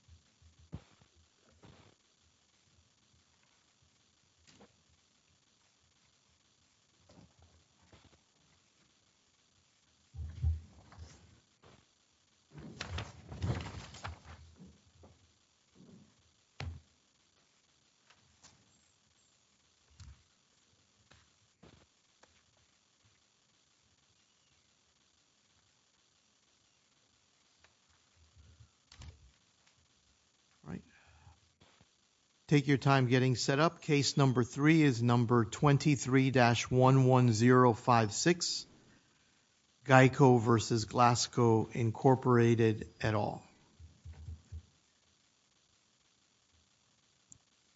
v. Jason Wilemon Right. Take your time getting set up. Case number three is number 23-11056 Geico v. Glasgow Incorporated et al.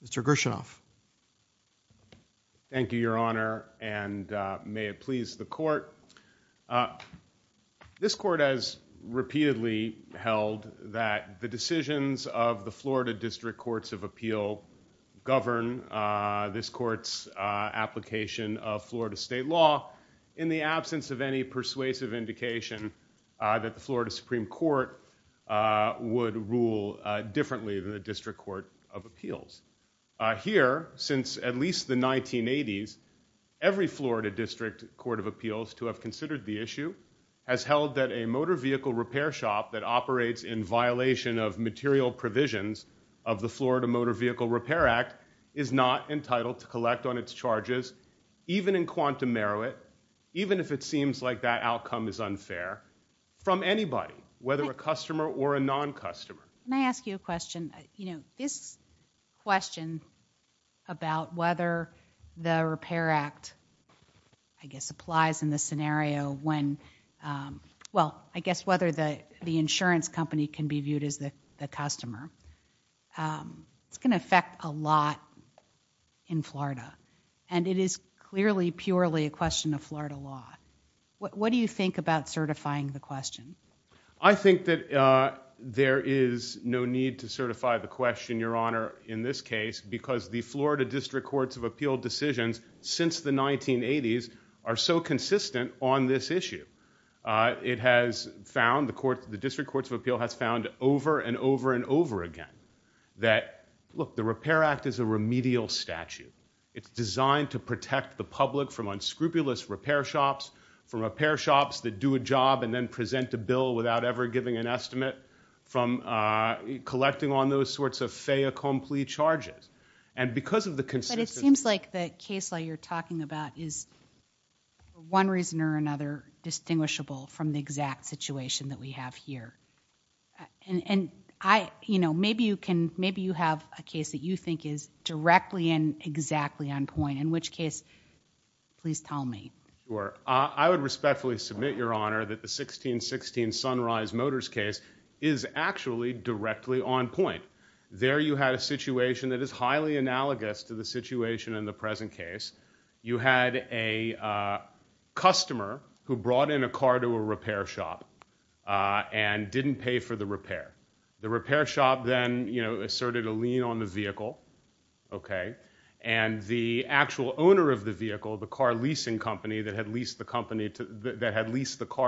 Mr. Grishinov. Thank you, Your Honor, and may it please the court. This court has repeatedly held that the decisions of the Florida District Courts of Appeal govern this court's application of Florida state law in the absence of any persuasive indication that the Florida Supreme Court would rule differently than the District Court of Appeals. Here, since at least the 1980s, every Florida District Court of Appeals to have considered the issue has held that a motor vehicle repair shop that operates in violation of material provisions of the Florida Motor Vehicle Repair Act is not entitled to collect on its charges, even in quantum merit, even if it seems like that outcome is unfair, from anybody, whether a customer or a non-customer. May I ask you a question? You know, this question about whether the Repair Act, I guess, applies in this scenario when, well, I guess whether the insurance company can be viewed as the customer, it's going to affect a lot in Florida. And it is clearly, purely a question of Florida law. What do you think about certifying the question? I think that there is no need to certify the question, Your Honor, in this case, because the Florida District Courts of Appeal decisions since the 1980s are so consistent on this issue. It has found, the District Courts of Appeal has found over and over and over again that, look, the Repair Act is a remedial statute. It's designed to protect the public from unscrupulous repair shops, from repair shops that do a job and then present a bill without ever giving an estimate, from collecting on those sorts of fait accompli charges. And because of the consistency- But it seems like the case law you're talking about is, for one reason or another, distinguishable from the exact situation that we have here. And, you know, maybe you have a case that you think is directly and exactly on point, in which case, please tell me. Sure. I would respectfully submit, Your Honor, that the 1616 Sunrise Motors case is actually directly on point. There you had a situation that is highly analogous to the situation in the present case. You had a customer who brought in a car to a repair shop and didn't pay for the repair. The repair shop then, you know, asserted a lien on the vehicle, okay? And the actual owner of the vehicle, the car leasing company that had leased the car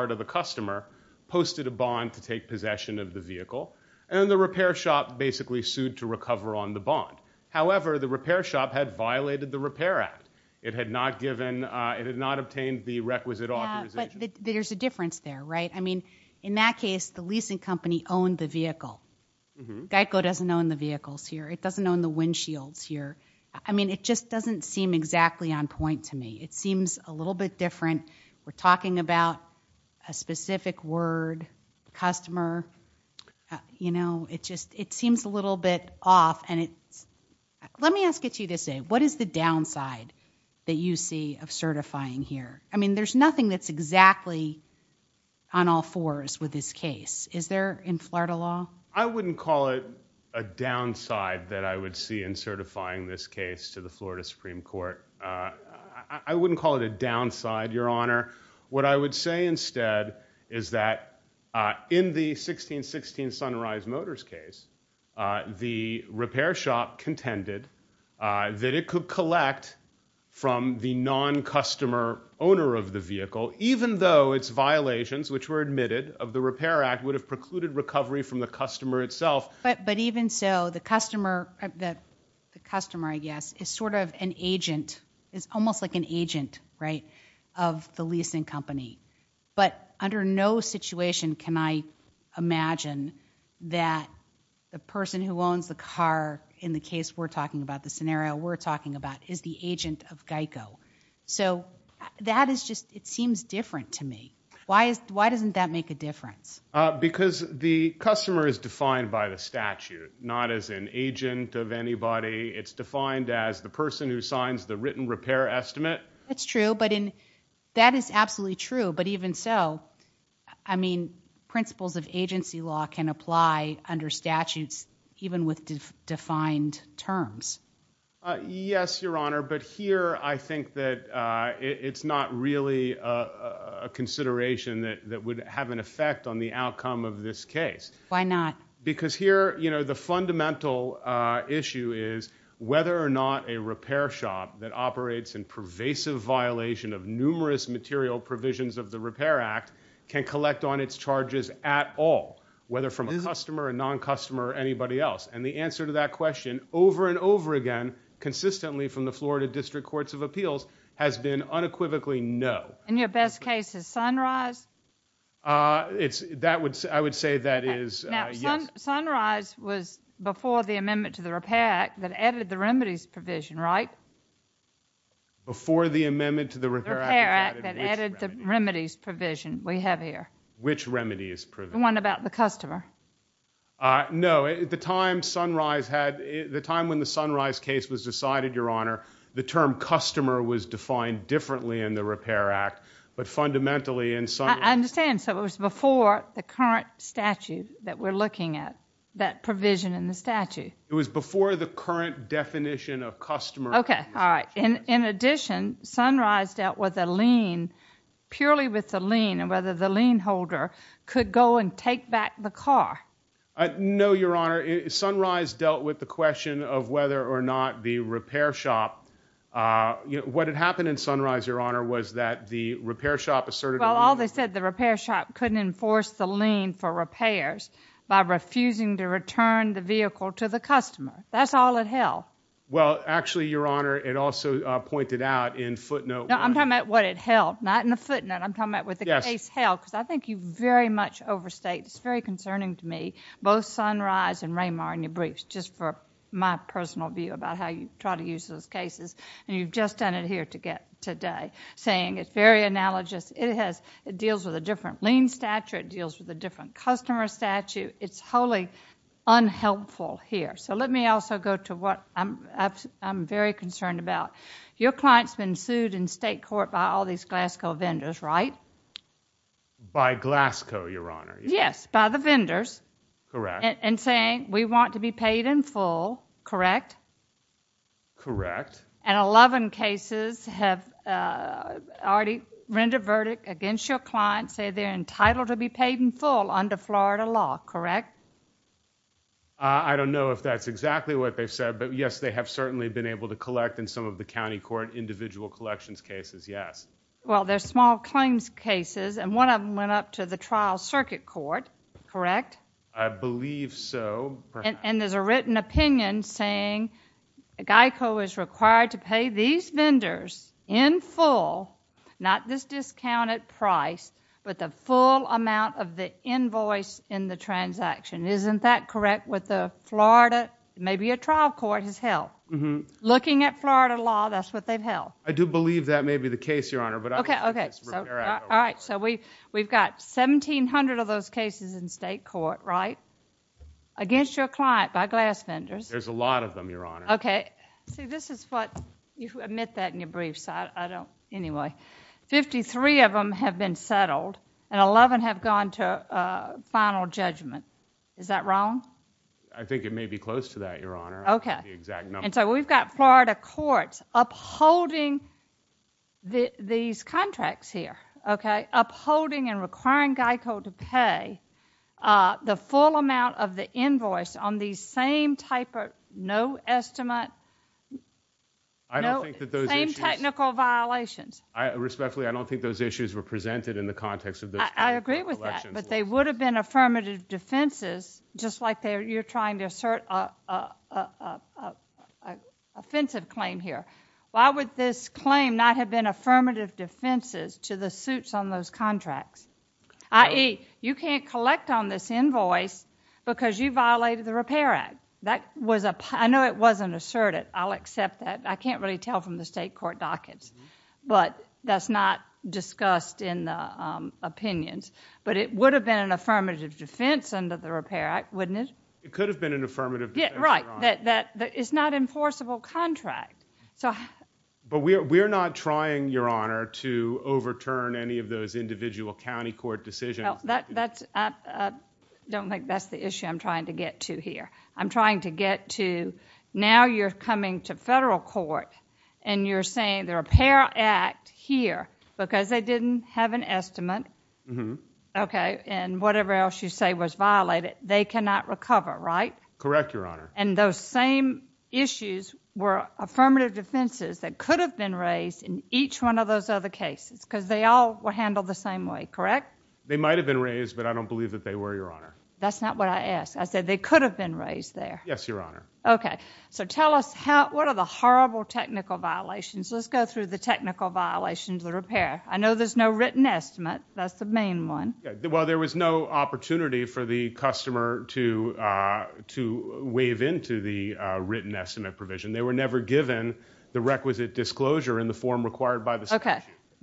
to the customer, posted a bond to take possession of the vehicle, and the repair shop basically sued to recover on the bond. However, the repair shop had violated the Repair Act. It had not obtained the requisite authorization. Yeah, but there's a difference there, right? I mean, in that case, the leasing company owned the vehicle. GEICO doesn't own the vehicles here. It doesn't own the windshields here. I mean, it just doesn't seem exactly on point to me. It seems a little bit different. We're talking about a specific word, customer. You know, it just, it seems a little bit off. And it's, let me ask you to say, what is the downside that you see of certifying here? I mean, there's nothing that's exactly on all fours with this case. Is there in Florida law? I wouldn't call it a downside that I would see in certifying this case to the Florida Supreme Court. I wouldn't call it a downside, Your Honor. What I would say instead is that in the 1616 Sunrise Motors case, the repair shop contended that it could collect from the non-customer owner of the vehicle, even though its violations, which were admitted of the Repair Act, would have precluded recovery from the customer itself. But even so, the customer, I guess, is sort of an agent, is almost like an agent, right, of the leasing company. But under no situation can I imagine that the person who owns the car in the case we're talking about, the scenario we're talking about, is the agent of GEICO. So that is just, it seems different to me. Why doesn't that make a difference? Because the customer is defined by the statute, not as an agent of anybody. It's defined as the person who signs the written repair estimate. That's true, but that is absolutely true. But even so, I mean, principles of agency law can apply under statutes, even with defined terms. Yes, Your Honor, but here I think that it's not really a consideration that would have an effect on the outcome of this case. Why not? Because here, you know, the fundamental issue is whether or not a repair shop that operates in pervasive violation of numerous material provisions of the Repair Act can collect on its charges at all, whether from a customer, a non-customer, or anybody else. And the answer to that question, over and over again, consistently from the Florida District Courts of Appeals, has been unequivocally no. And your best case is Sunrise? I would say that is yes. Now, Sunrise was before the amendment to the Repair Act that added the remedies provision, right? Before the amendment to the Repair Act that added the remedies provision we have here. Which remedies provision? The one about the customer. No, the time Sunrise had, the time when the Sunrise case was decided, Your Honor, the term customer was defined differently in the Repair Act, but fundamentally in Sunrise. I understand, so it was before the current statute that we're looking at, that provision in the statute. It was before the current definition of customer. In addition, Sunrise dealt with a lien, purely with the lien, and whether the lien holder could go and take back the car. No, Your Honor, Sunrise dealt with the question of whether or not the repair shop, what had happened in Sunrise, Your Honor, was that the repair shop asserted... Well, all they said, the repair shop couldn't enforce the lien for repairs by refusing to return the vehicle to the customer. That's all it held. Well, actually, Your Honor, it also pointed out in footnote... No, I'm talking about what it held, not in the footnote. I'm talking about what the case held, because I think you very much overstate, it's very concerning to me, both Sunrise and Raymar in your briefs, just for my personal view about how you try to use those cases, and you've just done it here today, saying it's very analogous. It deals with a different lien statute, it deals with a different customer statute. It's wholly unhelpful here. So let me also go to what I'm very concerned about. Your client's been sued in state court by all these Glasgow vendors, right? By Glasgow, Your Honor. Yes, by the vendors. Correct. And saying, we want to be paid in full, correct? Correct. And 11 cases have already rendered verdict against your client, saying they're entitled to be paid in full under Florida law, correct? I don't know if that's exactly what they've said, but yes, they have certainly been able to collect in some of the county court individual collections cases, yes. Well, there's small claims cases, and one of them went up to the trial circuit court, correct? I believe so. And there's a written opinion saying GEICO is required to pay these vendors in full, not this discounted price, but the full amount of the invoice in the transaction. Isn't that correct with the Florida? Maybe a trial court has held. Looking at Florida law, that's what they've held. I do believe that may be the case, Your Honor. Okay. All right. So we've got 1,700 of those cases in state court, right? Against your client by glass vendors. There's a lot of them, Your Honor. Okay. See, this is what you admit that in your brief, so I don't anyway. Fifty-three of them have been settled, and 11 have gone to final judgment. Is that wrong? I think it may be close to that, Your Honor. Okay. The exact number. And so we've got Florida courts upholding these contracts here, okay, No, same technical violations. Respectfully, I don't think those issues were presented in the context of those collections laws. I agree with that, but they would have been affirmative defenses, just like you're trying to assert an offensive claim here. Why would this claim not have been affirmative defenses to the suits on those contracts? I.e., you can't collect on this invoice because you violated the Repair Act. I know it wasn't asserted. I'll accept that. I can't really tell from the state court dockets, but that's not discussed in the opinions. But it would have been an affirmative defense under the Repair Act, wouldn't it? It could have been an affirmative defense, Your Honor. Right. It's not an enforceable contract. But we're not trying, Your Honor, to overturn any of those individual county court decisions. I don't think that's the issue I'm trying to get to here. I'm trying to get to now you're coming to federal court and you're saying the Repair Act here, because they didn't have an estimate, and whatever else you say was violated, they cannot recover, right? Correct, Your Honor. And those same issues were affirmative defenses that could have been raised in each one of those other cases because they all were handled the same way, correct? They might have been raised, but I don't believe that they were, Your Honor. That's not what I asked. I said they could have been raised there. Yes, Your Honor. Okay. So tell us what are the horrible technical violations. Let's go through the technical violations of the repair. I know there's no written estimate. That's the main one. Well, there was no opportunity for the customer to waive into the written estimate provision. They were never given the requisite disclosure in the form required by the statute.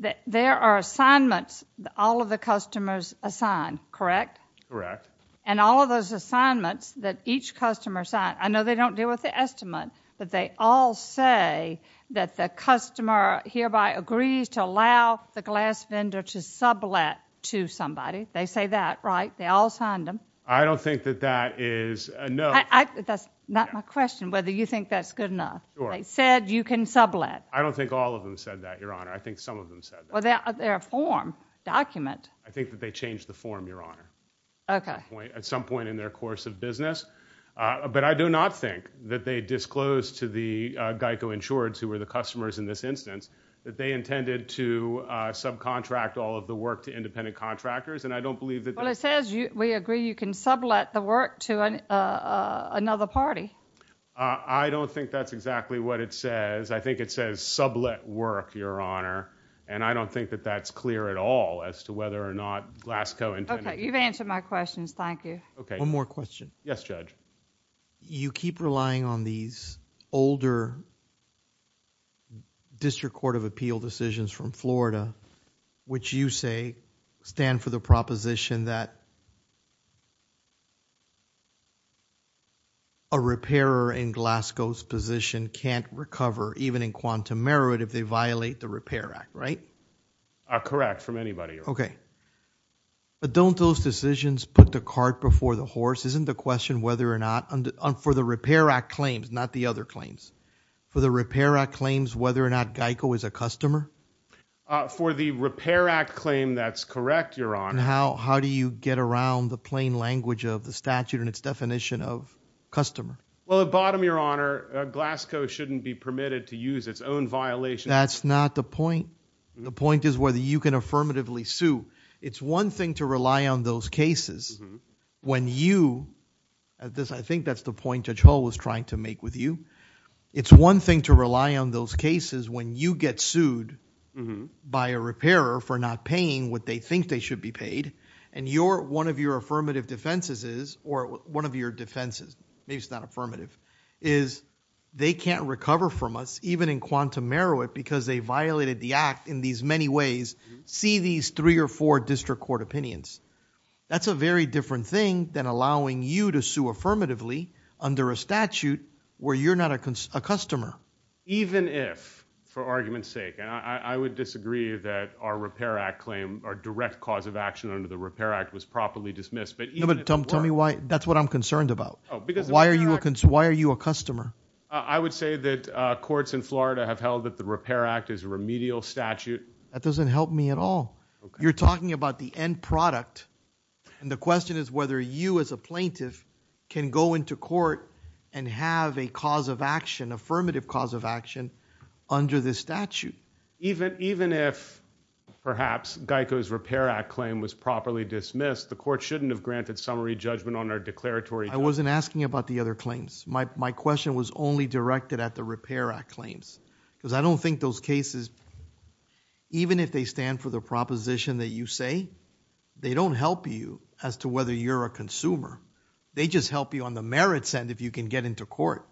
Okay. There are assignments all of the customers assign, correct? Correct. And all of those assignments that each customer assigns, I know they don't deal with the estimate, but they all say that the customer hereby agrees to allow the glass vendor to sublet to somebody. They say that, right? They all signed them. I don't think that that is a no. That's not my question, whether you think that's good enough. Sure. They said you can sublet. I don't think all of them said that, Your Honor. I think some of them said that. Well, they're a form document. I think that they changed the form, Your Honor. Okay. At some point in their course of business. But I do not think that they disclosed to the GEICO insureds, who were the customers in this instance, that they intended to subcontract all of the work to independent contractors. Well, it says we agree you can sublet the work to another party. I don't think that's exactly what it says. I think it says sublet work, Your Honor. And I don't think that that's clear at all as to whether or not Glasgow intended... Okay. You've answered my questions. Thank you. Okay. One more question. Yes, Judge. You keep relying on these older District Court of Appeal decisions from Florida, which you say stand for the proposition that a repairer in Glasgow's position can't recover, even in quantum merit, if they violate the Repair Act, right? Correct. That's correct from anybody. Okay. But don't those decisions put the cart before the horse? Isn't the question whether or not, for the Repair Act claims, not the other claims, for the Repair Act claims, whether or not GEICO is a customer? For the Repair Act claim, that's correct, Your Honor. How do you get around the plain language of the statute and its definition of customer? Well, at bottom, Your Honor, Glasgow shouldn't be permitted to use its own violation... That's not the point. The point is whether you can affirmatively sue. It's one thing to rely on those cases when you... I think that's the point Judge Hall was trying to make with you. It's one thing to rely on those cases when you get sued by a repairer for not paying what they think they should be paid, and one of your affirmative defenses is, or one of your defenses, maybe it's not affirmative, is they can't recover from us, even in quantum merit, because they violated the act in these many ways, see these three or four district court opinions. That's a very different thing than allowing you to sue affirmatively under a statute where you're not a customer. Even if, for argument's sake, and I would disagree that our Repair Act claim, our direct cause of action under the Repair Act was properly dismissed, but even if it were... Tell me why. That's what I'm concerned about. Why are you a customer? I would say that courts in Florida have held that the Repair Act is a remedial statute. That doesn't help me at all. You're talking about the end product, and the question is whether you, as a plaintiff, can go into court and have a cause of action, affirmative cause of action, under this statute. Even if, perhaps, Geico's Repair Act claim was properly dismissed, the court shouldn't have granted summary judgment on our declaratory... I wasn't asking about the other claims. My question was only directed at the Repair Act claims, because I don't think those cases, even if they stand for the proposition that you say, they don't help you as to whether you're a consumer. They just help you on the merits end if you can get into court.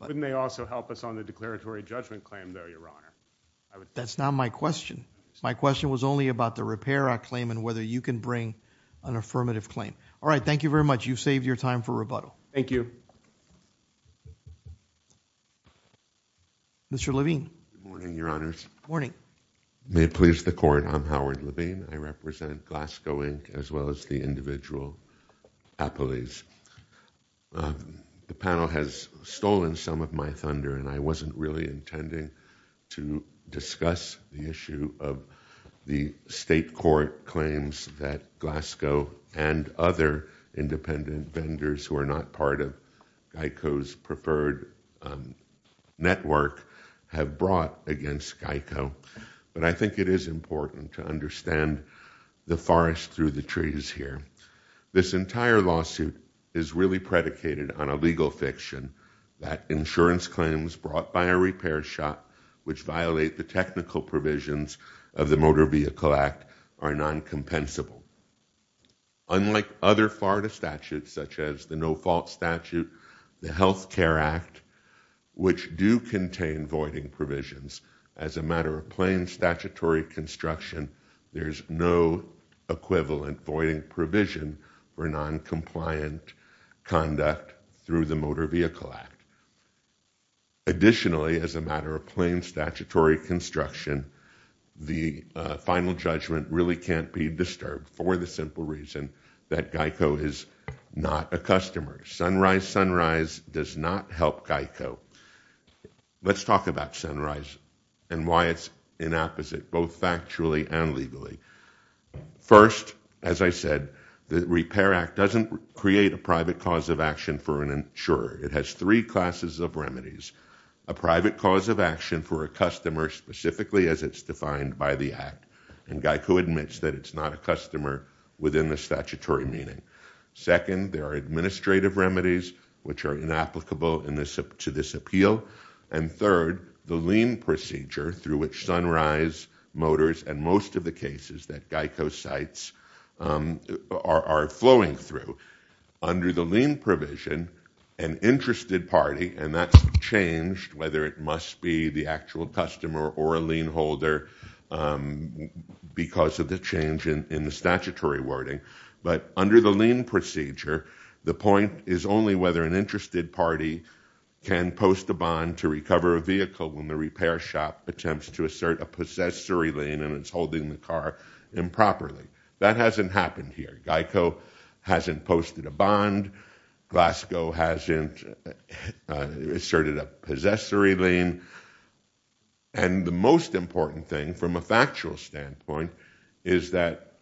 Wouldn't they also help us on the declaratory judgment claim, though, Your Honor? That's not my question. My question was only about the Repair Act claim and whether you can bring an affirmative claim. All right. Thank you very much. You've saved your time for rebuttal. Thank you. Mr. Levine. Good morning, Your Honors. Good morning. May it please the Court, I'm Howard Levine. I represent Glasgow, Inc., as well as the individual appellees. The panel has stolen some of my thunder, and I wasn't really intending to discuss the issue of the state court claims that Glasgow and other independent vendors who are not part of GEICO's preferred network have brought against GEICO. But I think it is important to understand the forest through the trees here. This entire lawsuit is really predicated on a legal fiction, that insurance claims brought by a repair shop which violate the technical provisions of the Motor Vehicle Act are non-compensable. Unlike other Florida statutes, such as the No Fault Statute, the Health Care Act, which do contain voiding provisions, as a matter of plain statutory construction, there's no equivalent voiding provision for non-compliant conduct through the Motor Vehicle Act. Additionally, as a matter of plain statutory construction, the final judgment really can't be disturbed for the simple reason that GEICO is not a customer. Sunrise Sunrise does not help GEICO. Let's talk about Sunrise and why it's inapposite, both factually and legally. First, as I said, the Repair Act doesn't create a private cause of action for an insurer. It has three classes of remedies. A private cause of action for a customer, specifically as it's defined by the Act, and GEICO admits that it's not a customer within the statutory meaning. Second, there are administrative remedies which are inapplicable to this appeal. And third, the lien procedure through which Sunrise Motors and most of the cases that GEICO cites are flowing through. Under the lien provision, an interested party, and that's changed whether it must be the actual customer or a lien holder because of the change in the statutory wording. But under the lien procedure, the point is only whether an interested party can post a bond to recover a vehicle when the repair shop attempts to assert a possessory lien and it's holding the car improperly. That hasn't happened here. GEICO hasn't posted a bond. Glasgow hasn't asserted a possessory lien. And the most important thing from a factual standpoint is that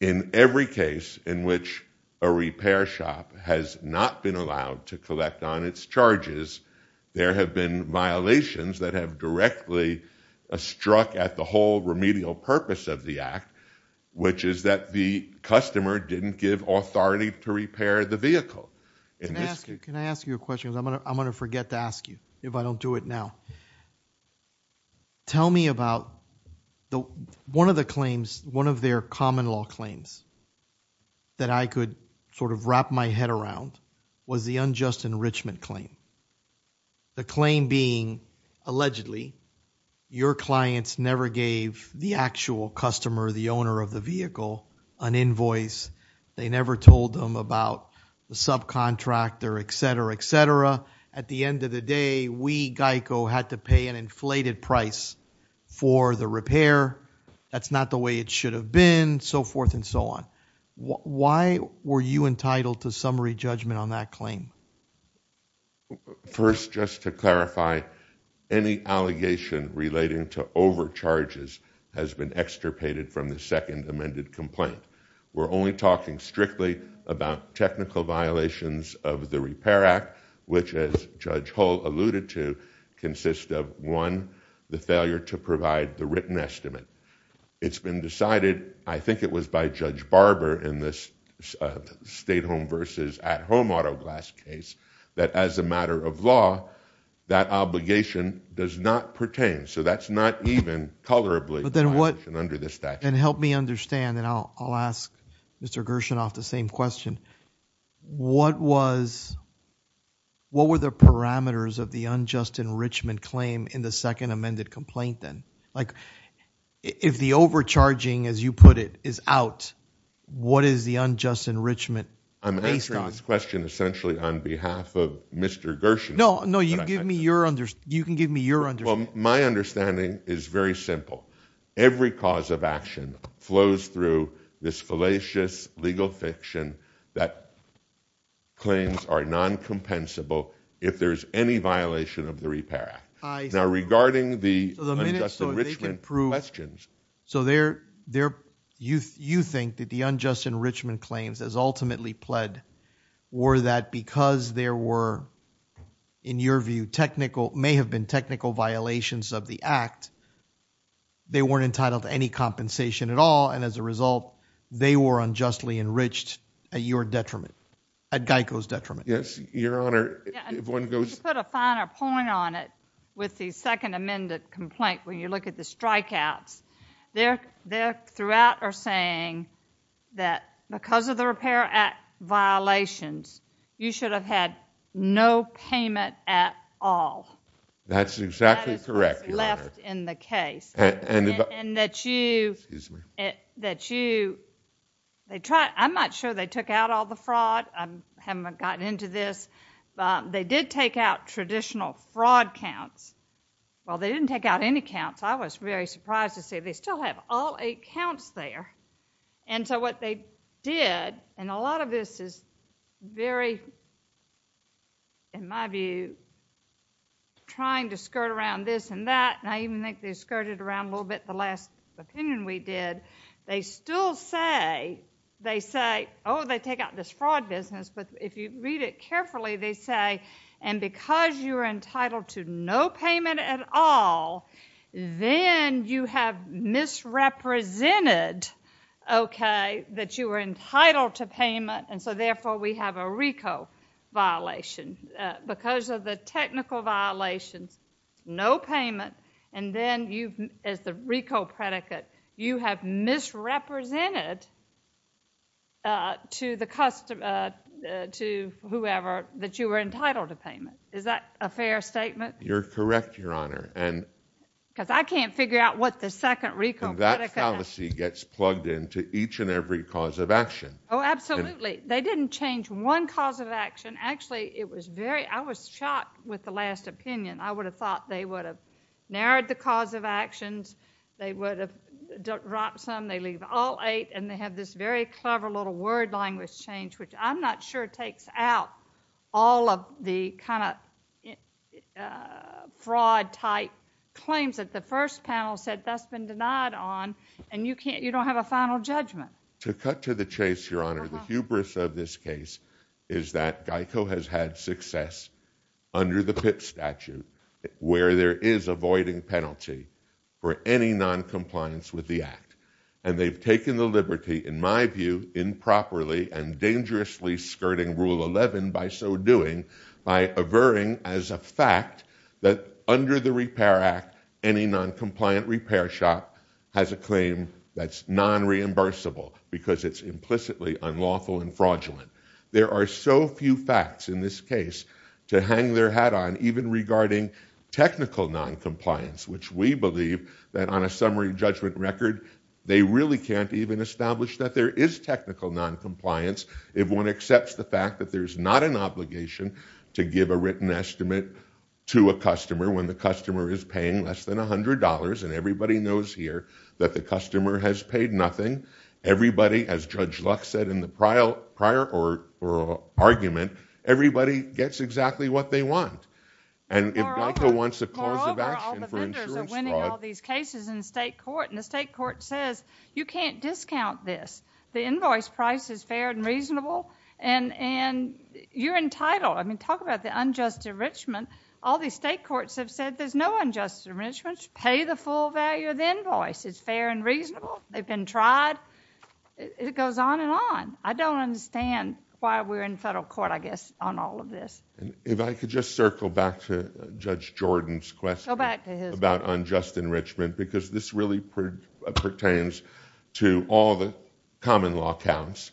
in every case in which a repair shop has not been allowed to collect on its charges, there have been violations that have directly struck at the whole remedial purpose of the Act, which is that the customer didn't give authority to repair the vehicle. Can I ask you a question? I'm going to forget to ask you if I don't do it now. Tell me about one of the claims, one of their common law claims that I could sort of wrap my head around was the unjust enrichment claim. The claim being, allegedly, your clients never gave the actual customer, the owner of the vehicle, an invoice. They never told them about the subcontractor, et cetera, et cetera. At the end of the day, we, GEICO, had to pay an inflated price for the repair. That's not the way it should have been, so forth and so on. Why were you entitled to summary judgment on that claim? First, just to clarify, any allegation relating to overcharges has been extirpated from the second amended complaint. We're only talking strictly about technical violations of the Repair Act, which, as Judge Hull alluded to, consists of, one, the failure to provide the written estimate. It's been decided, I think it was by Judge Barber in this stay-at-home versus at-home auto glass case, that as a matter of law, that obligation does not pertain. That's not even colorably under the statute. Help me understand, and I'll ask Mr. Gershon off the same question. What were the parameters of the unjust enrichment claim in the second amended complaint then? If the overcharging, as you put it, is out, what is the unjust enrichment based on? I'm answering this question essentially on behalf of Mr. Gershon. No, you can give me your understanding. My understanding is very simple. Every cause of action flows through this fallacious legal fiction that claims are non-compensable if there's any violation of the Repair Act. Now, regarding the unjust enrichment questions. So you think that the unjust enrichment claims as ultimately pled were that because there were, in your view, may have been technical violations of the Act, they weren't entitled to any compensation at all, and as a result, they were unjustly enriched at your detriment, at GEICO's detriment. Yes, Your Honor. You put a finer point on it with the second amended complaint when you look at the strikeouts. They throughout are saying that because of the Repair Act violations, you should have had no payment at all. That's exactly correct, Your Honor. That is what's left in the case. And that you... Excuse me. That you... I'm not sure they took out all the fraud. I haven't gotten into this. They did take out traditional fraud counts. While they didn't take out any counts, I was very surprised to see they still have all eight counts there. And so what they did, and a lot of this is very, in my view, trying to skirt around this and that, and I even think they skirted around a little bit the last opinion we did. They still say... They say, oh, they take out this fraud business, but if you read it carefully, they say, and because you are entitled to no payment at all, then you have misrepresented, okay, that you are entitled to payment, and so therefore we have a RICO violation. Because of the technical violations, no payment, and then you, as the RICO predicate, you have misrepresented to whoever that you were entitled to payment. Is that a fair statement? You're correct, Your Honor. Because I can't figure out what the second RICO predicate... And that fallacy gets plugged into each and every cause of action. Oh, absolutely. They didn't change one cause of action. Actually, it was very... I was shocked with the last opinion. I would have thought they would have narrowed the cause of actions, they would have dropped some, they leave all eight, and they have this very clever little word language change, which I'm not sure takes out all of the kind of fraud-type claims that the first panel said that's been denied on, and you don't have a final judgment. To cut to the chase, Your Honor, the hubris of this case is that GEICO has had success under the PIP statute, where there is a voiding penalty for any noncompliance with the act. And they've taken the liberty, in my view, improperly and dangerously skirting Rule 11 by so doing, by averring as a fact that under the Repair Act, any noncompliant repair shop has a claim that's non-reimbursable because it's implicitly unlawful and fraudulent. There are so few facts in this case to hang their hat on, even regarding technical noncompliance, which we believe that on a summary judgment record, they really can't even establish that there is technical noncompliance if one accepts the fact that there's not an obligation to give a written estimate to a customer when the customer is paying less than $100, and everybody knows here that the customer has paid nothing. As Judge Lux said in the prior argument, everybody gets exactly what they want. And if GEICO wants a clause of action for insurance fraud... Moreover, all the vendors are winning all these cases in the state court, and the state court says, you can't discount this. The invoice price is fair and reasonable, and you're entitled. I mean, talk about the unjust enrichment. All these state courts have said there's no unjust enrichment. Pay the full value of the invoice. It's fair and reasonable. They've been tried. It goes on and on. I don't understand why we're in federal court, I guess, on all of this. If I could just circle back to Judge Jordan's question... Go back to his...... about unjust enrichment, because this really pertains to all the common law counts.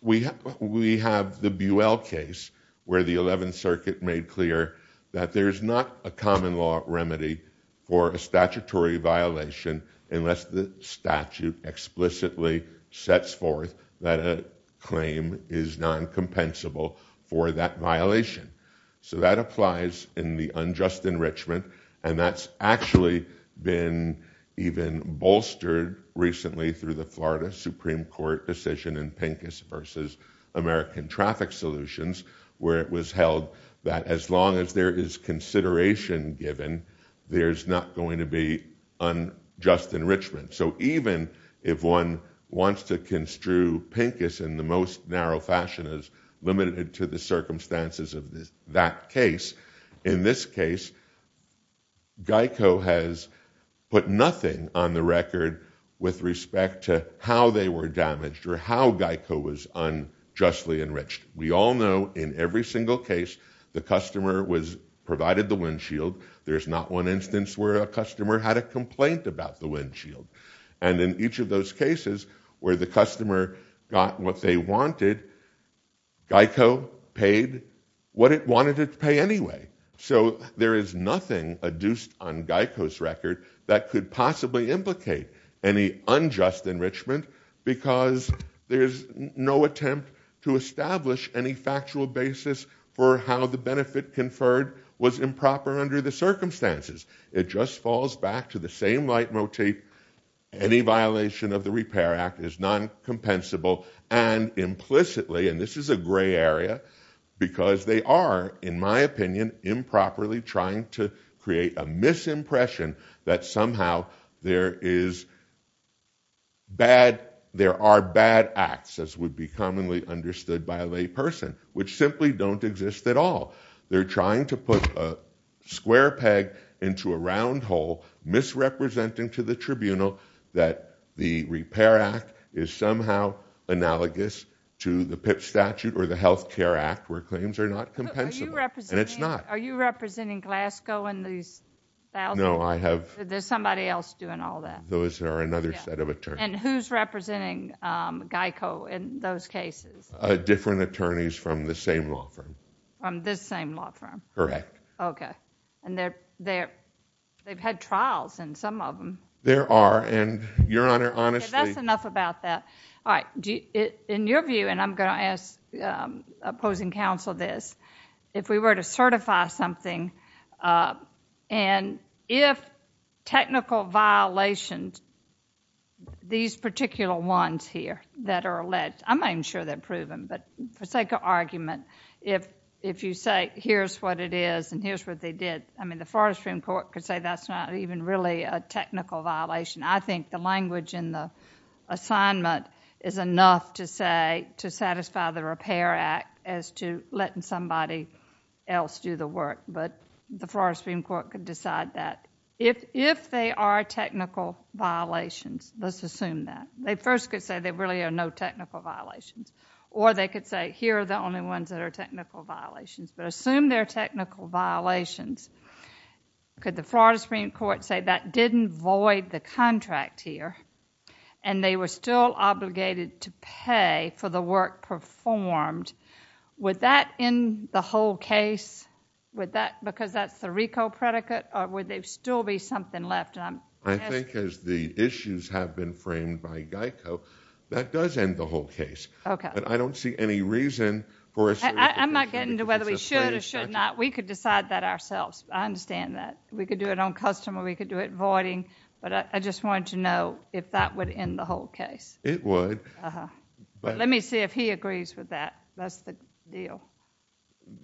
We have the Buell case, where the Eleventh Circuit made clear that there's not a common law remedy for a statutory violation, unless the statute explicitly sets forth that a claim is non-compensable for that violation. So, that applies in the unjust enrichment, and that's actually been even bolstered recently through the Florida Supreme Court decision in Pincus v. American Traffic Solutions, where it was held that as long as there is consideration given, there's not going to be unjust enrichment. So, even if one wants to construe Pincus in the most narrow fashion, as limited to the circumstances of that case, in this case, Geico has put nothing on the record with respect to how they were damaged, or how Geico was unjustly enriched. We all know, in every single case, the customer was provided the windshield. There's not one instance where a customer had a complaint about the windshield. And in each of those cases, where the customer got what they wanted, Geico paid what it wanted it to pay anyway. So, there is nothing adduced on Geico's record that could possibly implicate any unjust enrichment, because there's no attempt to establish any factual basis for how the benefit conferred was improper under the circumstances. It just falls back to the same leitmotif, any violation of the Repair Act is non-compensable, and implicitly, and this is a gray area, because they are, in my opinion, improperly trying to create a misimpression that somehow there are bad acts, as would be commonly understood by a lay person, which simply don't exist at all. They're trying to put a square peg into a round hole, misrepresenting to the tribunal that the Repair Act is somehow analogous to the PIP statute or the Health Care Act, where claims are not compensable. And it's not. Are you representing Glasgow in these thousands? No, I have... There's somebody else doing all that? Those are another set of attorneys. And who's representing Geico in those cases? Different attorneys from the same law firm. From this same law firm? Correct. Okay. And they've had trials in some of them. There are, and Your Honor, honestly... Okay, that's enough about that. All right, in your view, and I'm going to ask opposing counsel this, if we were to certify something, and if technical violations, these particular ones here that are alleged, I'm not even sure they're proven, but for sake of argument, if you say, here's what it is and here's what they did, I mean, the Forestry Court could say that's not even really a technical violation. I think the language in the assignment is enough to say, to satisfy the Repair Act as to letting somebody else do the work. But the Florida Supreme Court could decide that. If they are technical violations, let's assume that. They first could say there really are no technical violations. Or they could say, here are the only ones that are technical violations. But assume they're technical violations, could the Florida Supreme Court say that didn't void the contract here and they were still obligated to pay for the work performed, would that end the whole case because that's the RICO predicate or would there still be something left? I think as the issues have been framed by GEICO, that does end the whole case. I don't see any reason for... I'm not getting to whether we should or should not. We could decide that ourselves. I understand that. We could do it on custom or we could do it voiding. But I just wanted to know if that would end the whole case. It would. Uh-huh. Let me see if he agrees with that. That's the deal.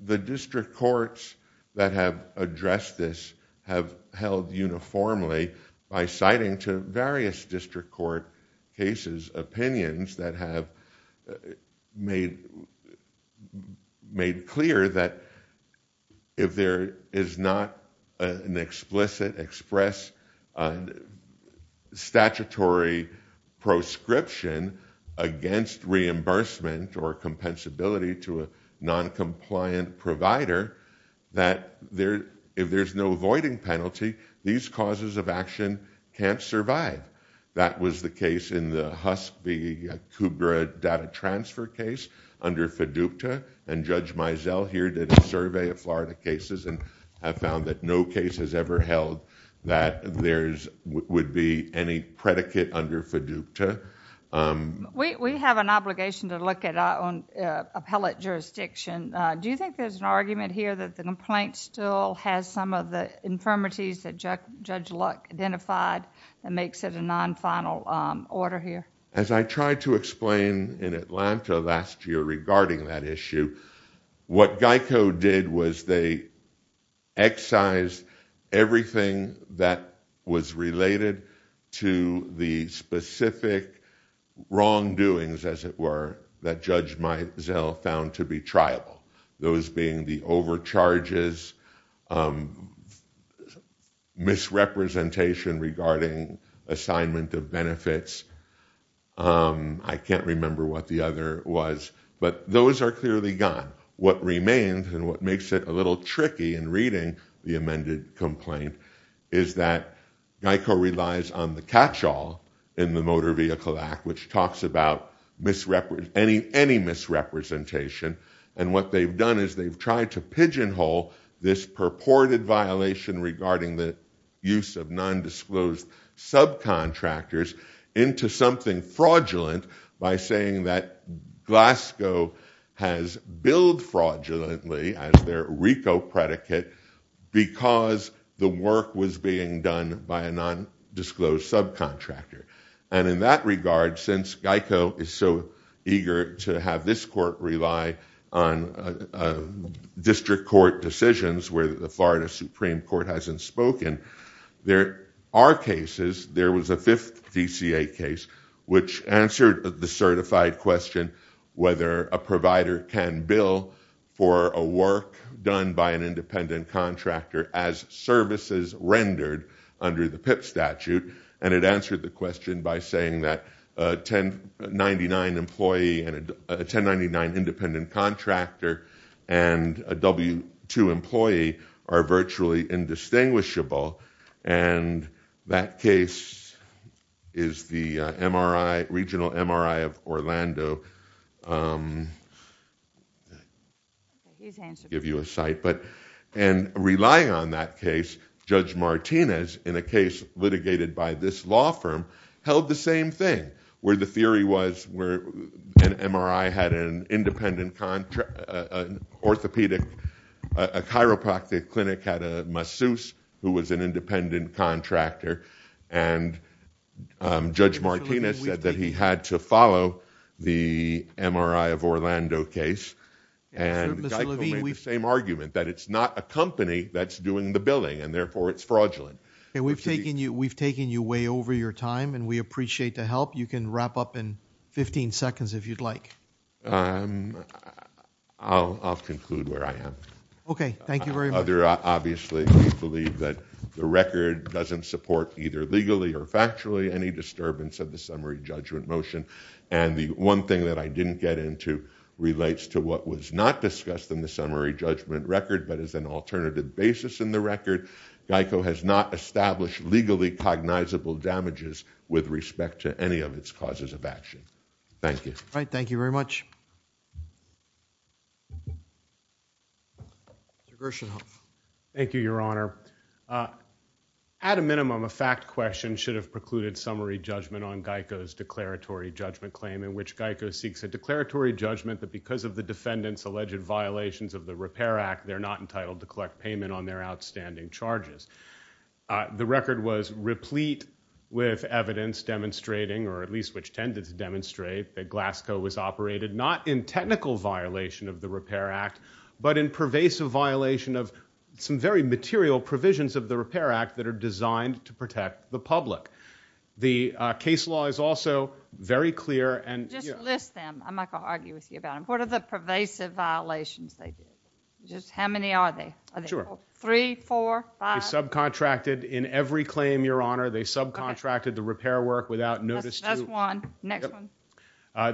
The district courts that have addressed this have held uniformly by citing to various district court cases, opinions that have made clear that if there is not an explicit, express statutory proscription against reimbursement or compensability to a noncompliant provider, that if there's no voiding penalty, these causes of action can't survive. That was the case in the Husk v. Kugra data transfer case under FDUKTA and Judge Mizell here did a survey of Florida cases and have found that no case has ever held that there would be any predicate under FDUKTA. We have an obligation to look at our own appellate jurisdiction. Do you think there's an argument here that the complaint still has some of the infirmities that Judge Luck identified that makes it a non-final order here? As I tried to explain in Atlanta last year regarding that issue, what GEICO did was they excised everything that was related to the specific wrongdoings, as it were, that Judge Mizell found to be triable, those being the overcharges, misrepresentation regarding assignment of benefits. I can't remember what the other was, but those are clearly gone. What remains and what makes it a little tricky in reading the amended complaint is that GEICO relies on the catchall in the Motor Vehicle Act, which talks about any misrepresentation and what they've done is they've tried to pigeonhole this purported violation regarding the use of nondisclosed subcontractors into something fraudulent by saying that Glasgow has billed fraudulently as their RICO predicate because the work was being done by a nondisclosed subcontractor. And in that regard, since GEICO is so eager to have this court rely on district court decisions where the Florida Supreme Court hasn't spoken, there are cases. There was a fifth DCA case which answered the certified question whether a provider can bill for a work done by an independent contractor as services rendered under the PIP statute, and it answered the question by saying that a 1099 employee and a 1099 independent contractor and a W-2 employee are virtually indistinguishable, and that case is the MRI, regional MRI of Orlando. I'll give you a site. And relying on that case, Judge Martinez in a case litigated by this law firm held the same thing where the theory was where an MRI had an independent orthopedic, a chiropractic clinic had a masseuse who was an independent contractor, and Judge Martinez said that he had to follow the MRI of Orlando case, and GEICO made the same argument that it's not a company that's doing the billing, and therefore it's fraudulent. Okay. We've taken you way over your time, and we appreciate the help. You can wrap up in 15 seconds if you'd like. I'll conclude where I am. Okay. Thank you very much. Obviously, we believe that the record doesn't support either legally or factually any disturbance of the summary judgment motion, and the one thing that I didn't get into relates to what was not discussed in the summary judgment record but is an alternative basis in the record. GEICO has not established legally cognizable damages with respect to any of its causes of action. Thank you. All right. Thank you very much. Mr. Gershenhoff. Thank you, Your Honor. At a minimum, a fact question should have precluded summary judgment on GEICO's declaratory judgment claim in which GEICO seeks a declaratory judgment that because of the defendant's alleged violations of the Repair Act, they're not entitled to collect payment on their outstanding charges. The record was replete with evidence demonstrating, or at least which tended to demonstrate, that Glasgow was operated not in technical violation of the Repair Act but in pervasive violation of some very material provisions of the Repair Act that are designed to protect the public. The case law is also very clear. Just list them. I'm not going to argue with you about them. What are the pervasive violations they did? How many are they? Three, four, five? They subcontracted in every claim, Your Honor. They subcontracted the repair work without notice to you. That's one. Next one.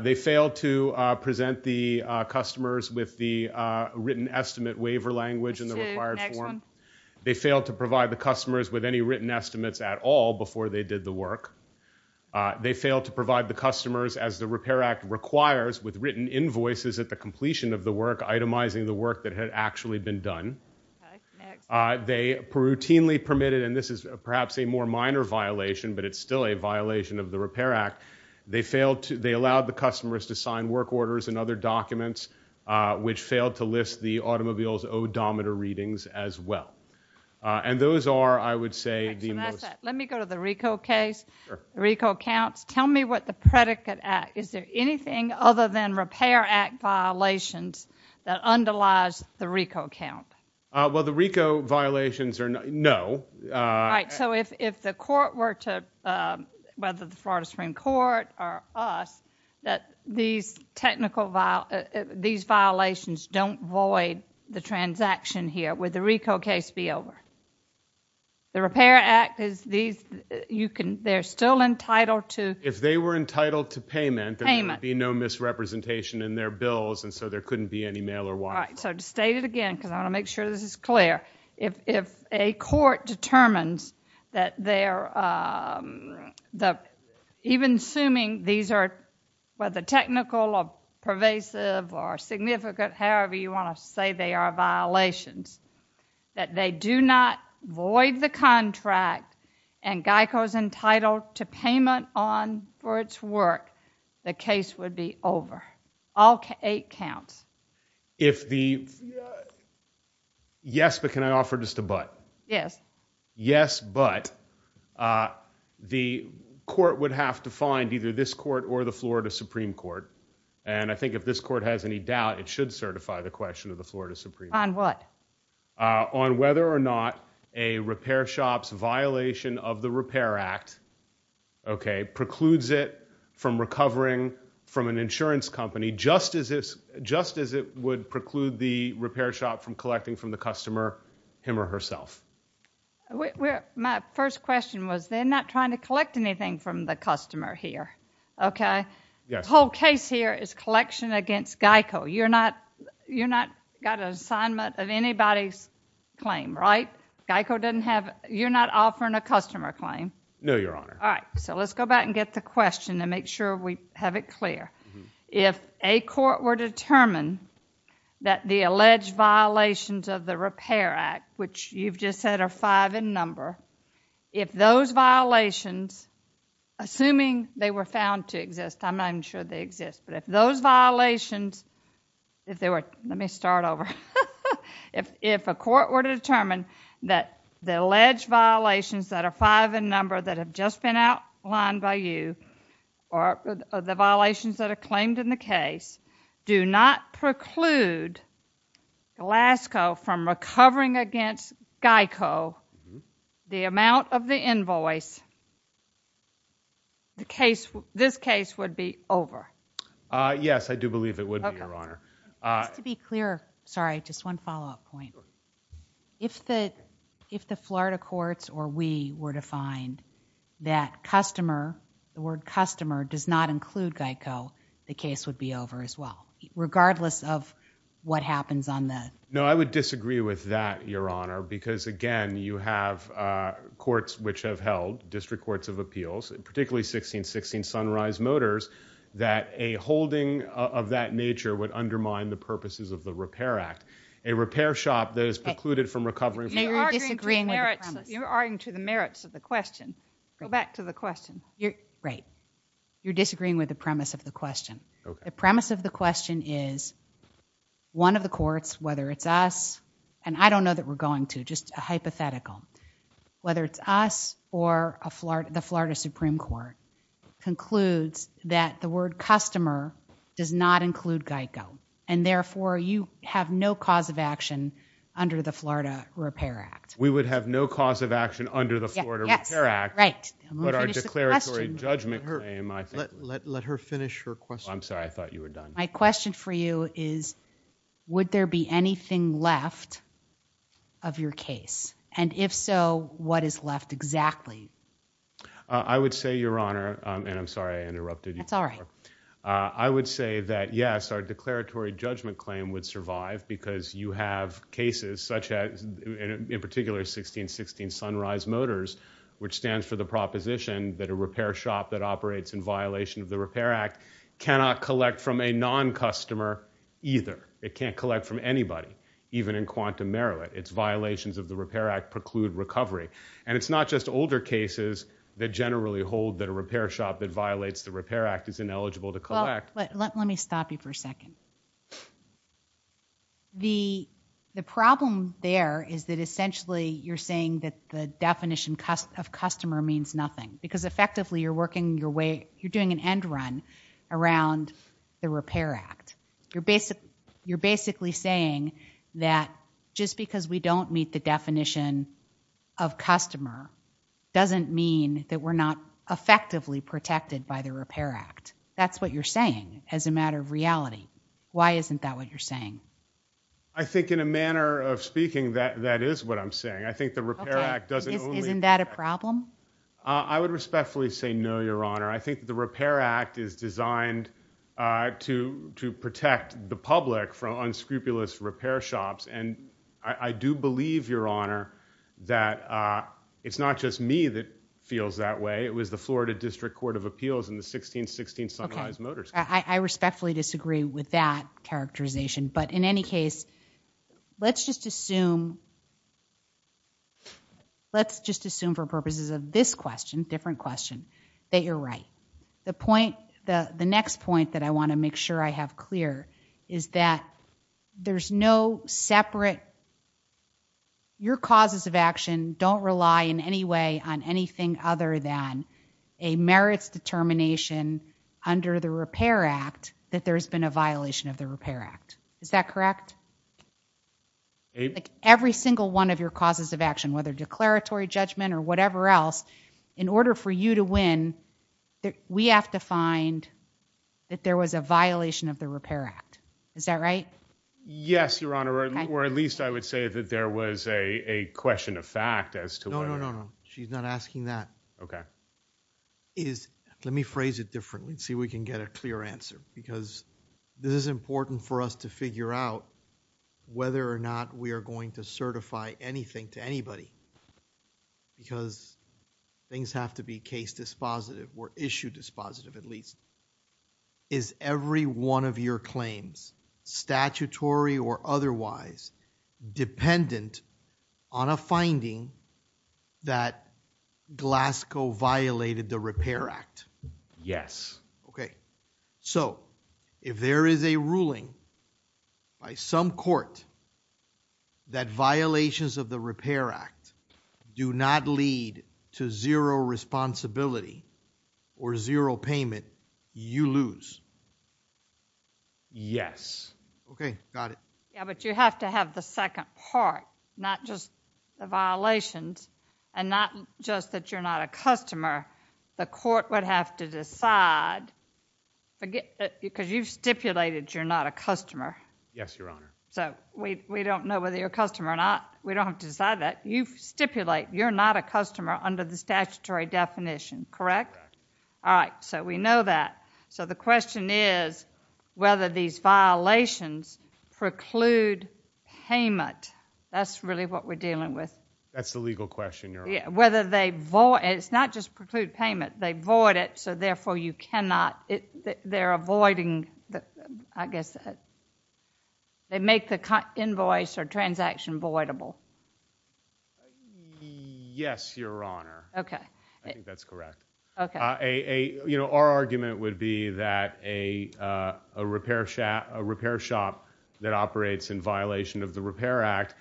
They failed to present the customers with the written estimate waiver language in the required form. That's two. Next one. They failed to provide the customers with any written estimates at all before they did the work. They failed to provide the customers, as the Repair Act requires with written invoices at the completion of the work, itemizing the work that had actually been done. Okay. Next. They routinely permitted, and this is perhaps a more minor violation, but it's still a violation of the Repair Act. They allowed the customers to sign work orders and other documents, which failed to list the automobile's odometer readings as well. And those are, I would say, the most. Let me go to the RICO case. Sure. The RICO counts. Tell me what the predicate act. Is there anything other than Repair Act violations that underlies the RICO count? Well, the RICO violations are no. Right. So if the court were to, whether the Florida Supreme Court or us, that these technical violations don't void the transaction here, would the RICO case be over? The Repair Act, they're still entitled to. If they were entitled to payment. Payment. There would be no misrepresentation in their bills, and so there couldn't be any mail or wire. Right. So to state it again, because I want to make sure this is clear, if a court determines that even assuming these are whether technical or pervasive or significant, however you want to say they are violations, that they do not void the contract and RICO is entitled to payment on for its work, the case would be over. All eight counts. Yes, but can I offer just a but? Yes. Yes, but the court would have to find either this court or the Florida Supreme Court. And I think if this court has any doubt, it should certify the question of the Florida Supreme Court. On what? On whether or not a repair shop's violation of the Repair Act, okay, precludes it from recovering from an insurance company, just as it would preclude the repair shop from collecting from the customer, him or herself. My first question was they're not trying to collect anything from the customer here, okay? Yes. The whole case here is collection against GEICO. You're not got an assignment of anybody's claim, right? GEICO doesn't have you're not offering a customer claim. No, Your Honor. All right, so let's go back and get the question and make sure we have it clear. If a court were determined that the alleged violations of the Repair Act, which you've just said are five in number, if those violations, assuming they were found to exist, I'm not even sure they exist, but if those violations, if they were, let me start over. If a court were to determine that the alleged violations that are five in number that have just been outlined by you, or the violations that are claimed in the case, do not preclude Glasgow from recovering against GEICO, the amount of the invoice, this case would be over. Yes, I do believe it would be, Your Honor. Just to be clear, sorry, just one follow-up point. If the Florida courts or we were to find that customer, the word customer does not include GEICO, the case would be over as well, regardless of what happens on the. No, I would disagree with that, Your Honor, because, again, you have courts which have held, district courts of appeals, particularly 1616 Sunrise Motors, that a holding of that nature would undermine the purposes of the Repair Act, a repair shop that is precluded from recovering. You're arguing to the merits of the question. Go back to the question. Right. You're disagreeing with the premise of the question. The premise of the question is one of the courts, whether it's us, and I don't know that we're going to, just a hypothetical, whether it's us or the Florida Supreme Court, concludes that the word customer does not include GEICO, and therefore you have no cause of action under the Florida Repair Act. We would have no cause of action under the Florida Repair Act, but our declaratory judgment claim, I think. Let her finish her question. I'm sorry, I thought you were done. My question for you is, would there be anything left of your case? And if so, what is left exactly? I would say, Your Honor, and I'm sorry I interrupted you. That's all right. I would say that, yes, our declaratory judgment claim would survive because you have cases such as, in particular, 1616 Sunrise Motors, which stands for the proposition that a repair shop that operates in It can't collect from anybody, even in Quantum, Maryland. Its violations of the Repair Act preclude recovery. And it's not just older cases that generally hold that a repair shop that violates the Repair Act is ineligible to collect. Let me stop you for a second. The problem there is that, essentially, you're saying that the definition of customer means nothing because, effectively, you're doing an end run around the Repair Act. You're basically saying that just because we don't meet the definition of customer doesn't mean that we're not effectively protected by the Repair Act. That's what you're saying as a matter of reality. Why isn't that what you're saying? I think, in a manner of speaking, that is what I'm saying. I think the Repair Act doesn't only... Okay. Isn't that a problem? I would respectfully say no, Your Honor. I think the Repair Act is designed to protect the public from unscrupulous repair shops. And I do believe, Your Honor, that it's not just me that feels that way. It was the Florida District Court of Appeals in the 1616 Sunrise Motor School. Okay. I respectfully disagree with that characterization. But, in any case, let's just assume for purposes of this question, that you're right. The next point that I want to make sure I have clear is that there's no separate... Your causes of action don't rely in any way on anything other than a merits determination under the Repair Act that there's been a violation of the Repair Act. Is that correct? Every single one of your causes of action, whether declaratory judgment or whatever else, in order for you to win, we have to find that there was a violation of the Repair Act. Is that right? Yes, Your Honor, or at least I would say that there was a question of fact as to whether... No, no, no, no. She's not asking that. Okay. Let me phrase it differently and see if we can get a clear answer because this is important for us to figure out whether or not we are going to certify anything to anybody because things have to be case dispositive or issue dispositive at least. Is every one of your claims statutory or otherwise dependent on a finding that Glasgow violated the Repair Act? Yes. Okay. So, if there is a ruling by some court that violations of the Repair Act do not lead to zero responsibility or zero payment, you lose? Yes. Okay. Got it. Yeah, but you have to have the second part, not just the violations and not just that you're not a customer. The court would have to decide because you've stipulated you're not a customer. Yes, Your Honor. So, we don't know whether you're a customer or not. We don't have to decide that. You stipulate you're not a customer under the statutory definition, correct? Correct. All right. So, we know that. So, the question is whether these violations preclude payment. That's really what we're dealing with. That's the legal question, Your Honor. Yeah, whether they... It's not just preclude payment. They void it, so therefore you cannot... I guess they make the invoice or transaction voidable. Yes, Your Honor. Okay. I think that's correct. Okay. Our argument would be that a repair shop that operates in violation of the Repair Act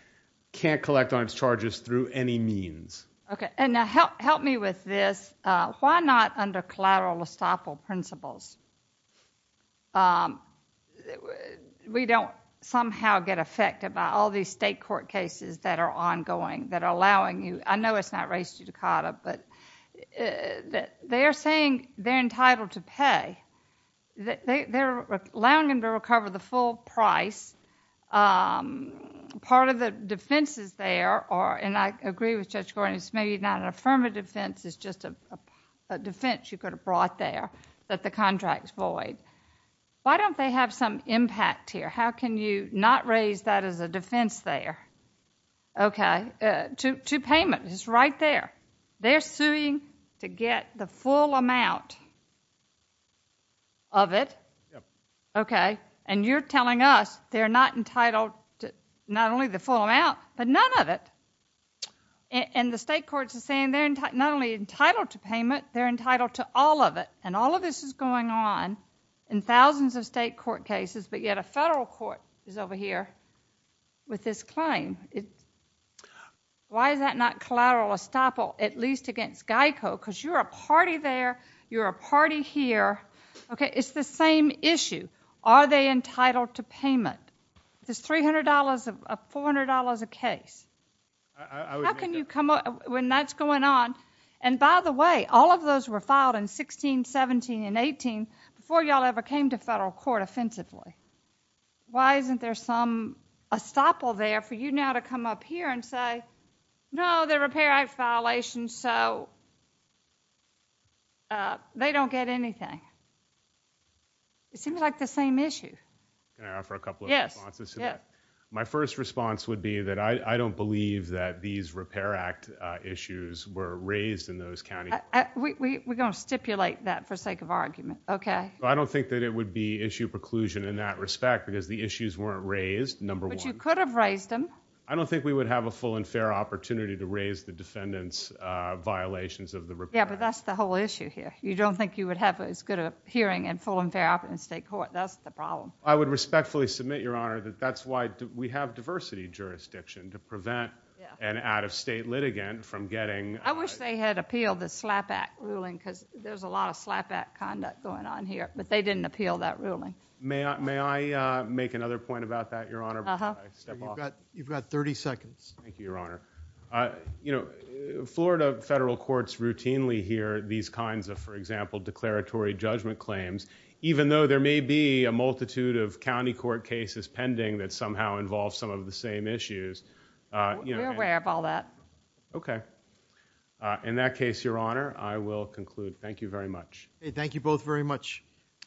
can't collect on its charges through any means. Okay. Now, help me with this. Why not under collateral estoppel principles? We don't somehow get affected by all these state court cases that are ongoing, that are allowing you... I know it's not race judicata, but they're saying they're entitled to pay. They're allowing them to recover the full price. Part of the defenses there are, and I agree with Judge Gordon, it's maybe not an affirmative defense, it's just a defense you could have brought there that the contract's void. Why don't they have some impact here? How can you not raise that as a defense there? Okay. To payment is right there. They're suing to get the full amount of it. Okay. And you're telling us they're not entitled to not only the full amount, but none of it. And the state courts are saying they're not only entitled to payment, they're entitled to all of it. And all of this is going on in thousands of state court cases, but yet a federal court is over here with this claim. Why is that not collateral estoppel, at least against GEICO? Because you're a party there, you're a party here. It's the same issue. Are they entitled to payment? If it's $300, $400 a case, how can you come up when that's going on? And, by the way, all of those were filed in 16, 17, and 18 before you all ever came to federal court offensively. Why isn't there some estoppel there for you now to come up here and say, no, they're a payright violation, so they don't get anything? It seems like the same issue. Can I offer a couple of responses to that? Yes. My first response would be that I don't believe that these Repair Act issues were raised in those counties. We're going to stipulate that for sake of argument, okay? I don't think that it would be issue preclusion in that respect because the issues weren't raised, number one. But you could have raised them. I don't think we would have a full and fair opportunity to raise the defendant's violations of the Repair Act. Yeah, but that's the whole issue here. You don't think you would have as good a hearing in full and fair opportunity in state court. That's the problem. I would respectfully submit, Your Honor, that that's why we have diversity jurisdiction to prevent an out-of-state litigant from getting- I wish they had appealed the SLAPP Act ruling because there's a lot of SLAPP Act conduct going on here, but they didn't appeal that ruling. May I make another point about that, Your Honor? Uh-huh. You've got 30 seconds. Thank you, Your Honor. Florida federal courts routinely hear these kinds of, for example, declaratory judgment claims, even though there may be a multitude of county court cases pending that somehow involve some of the same issues. We're aware of all that. Okay. In that case, Your Honor, I will conclude. Thank you very much. Thank you both very much.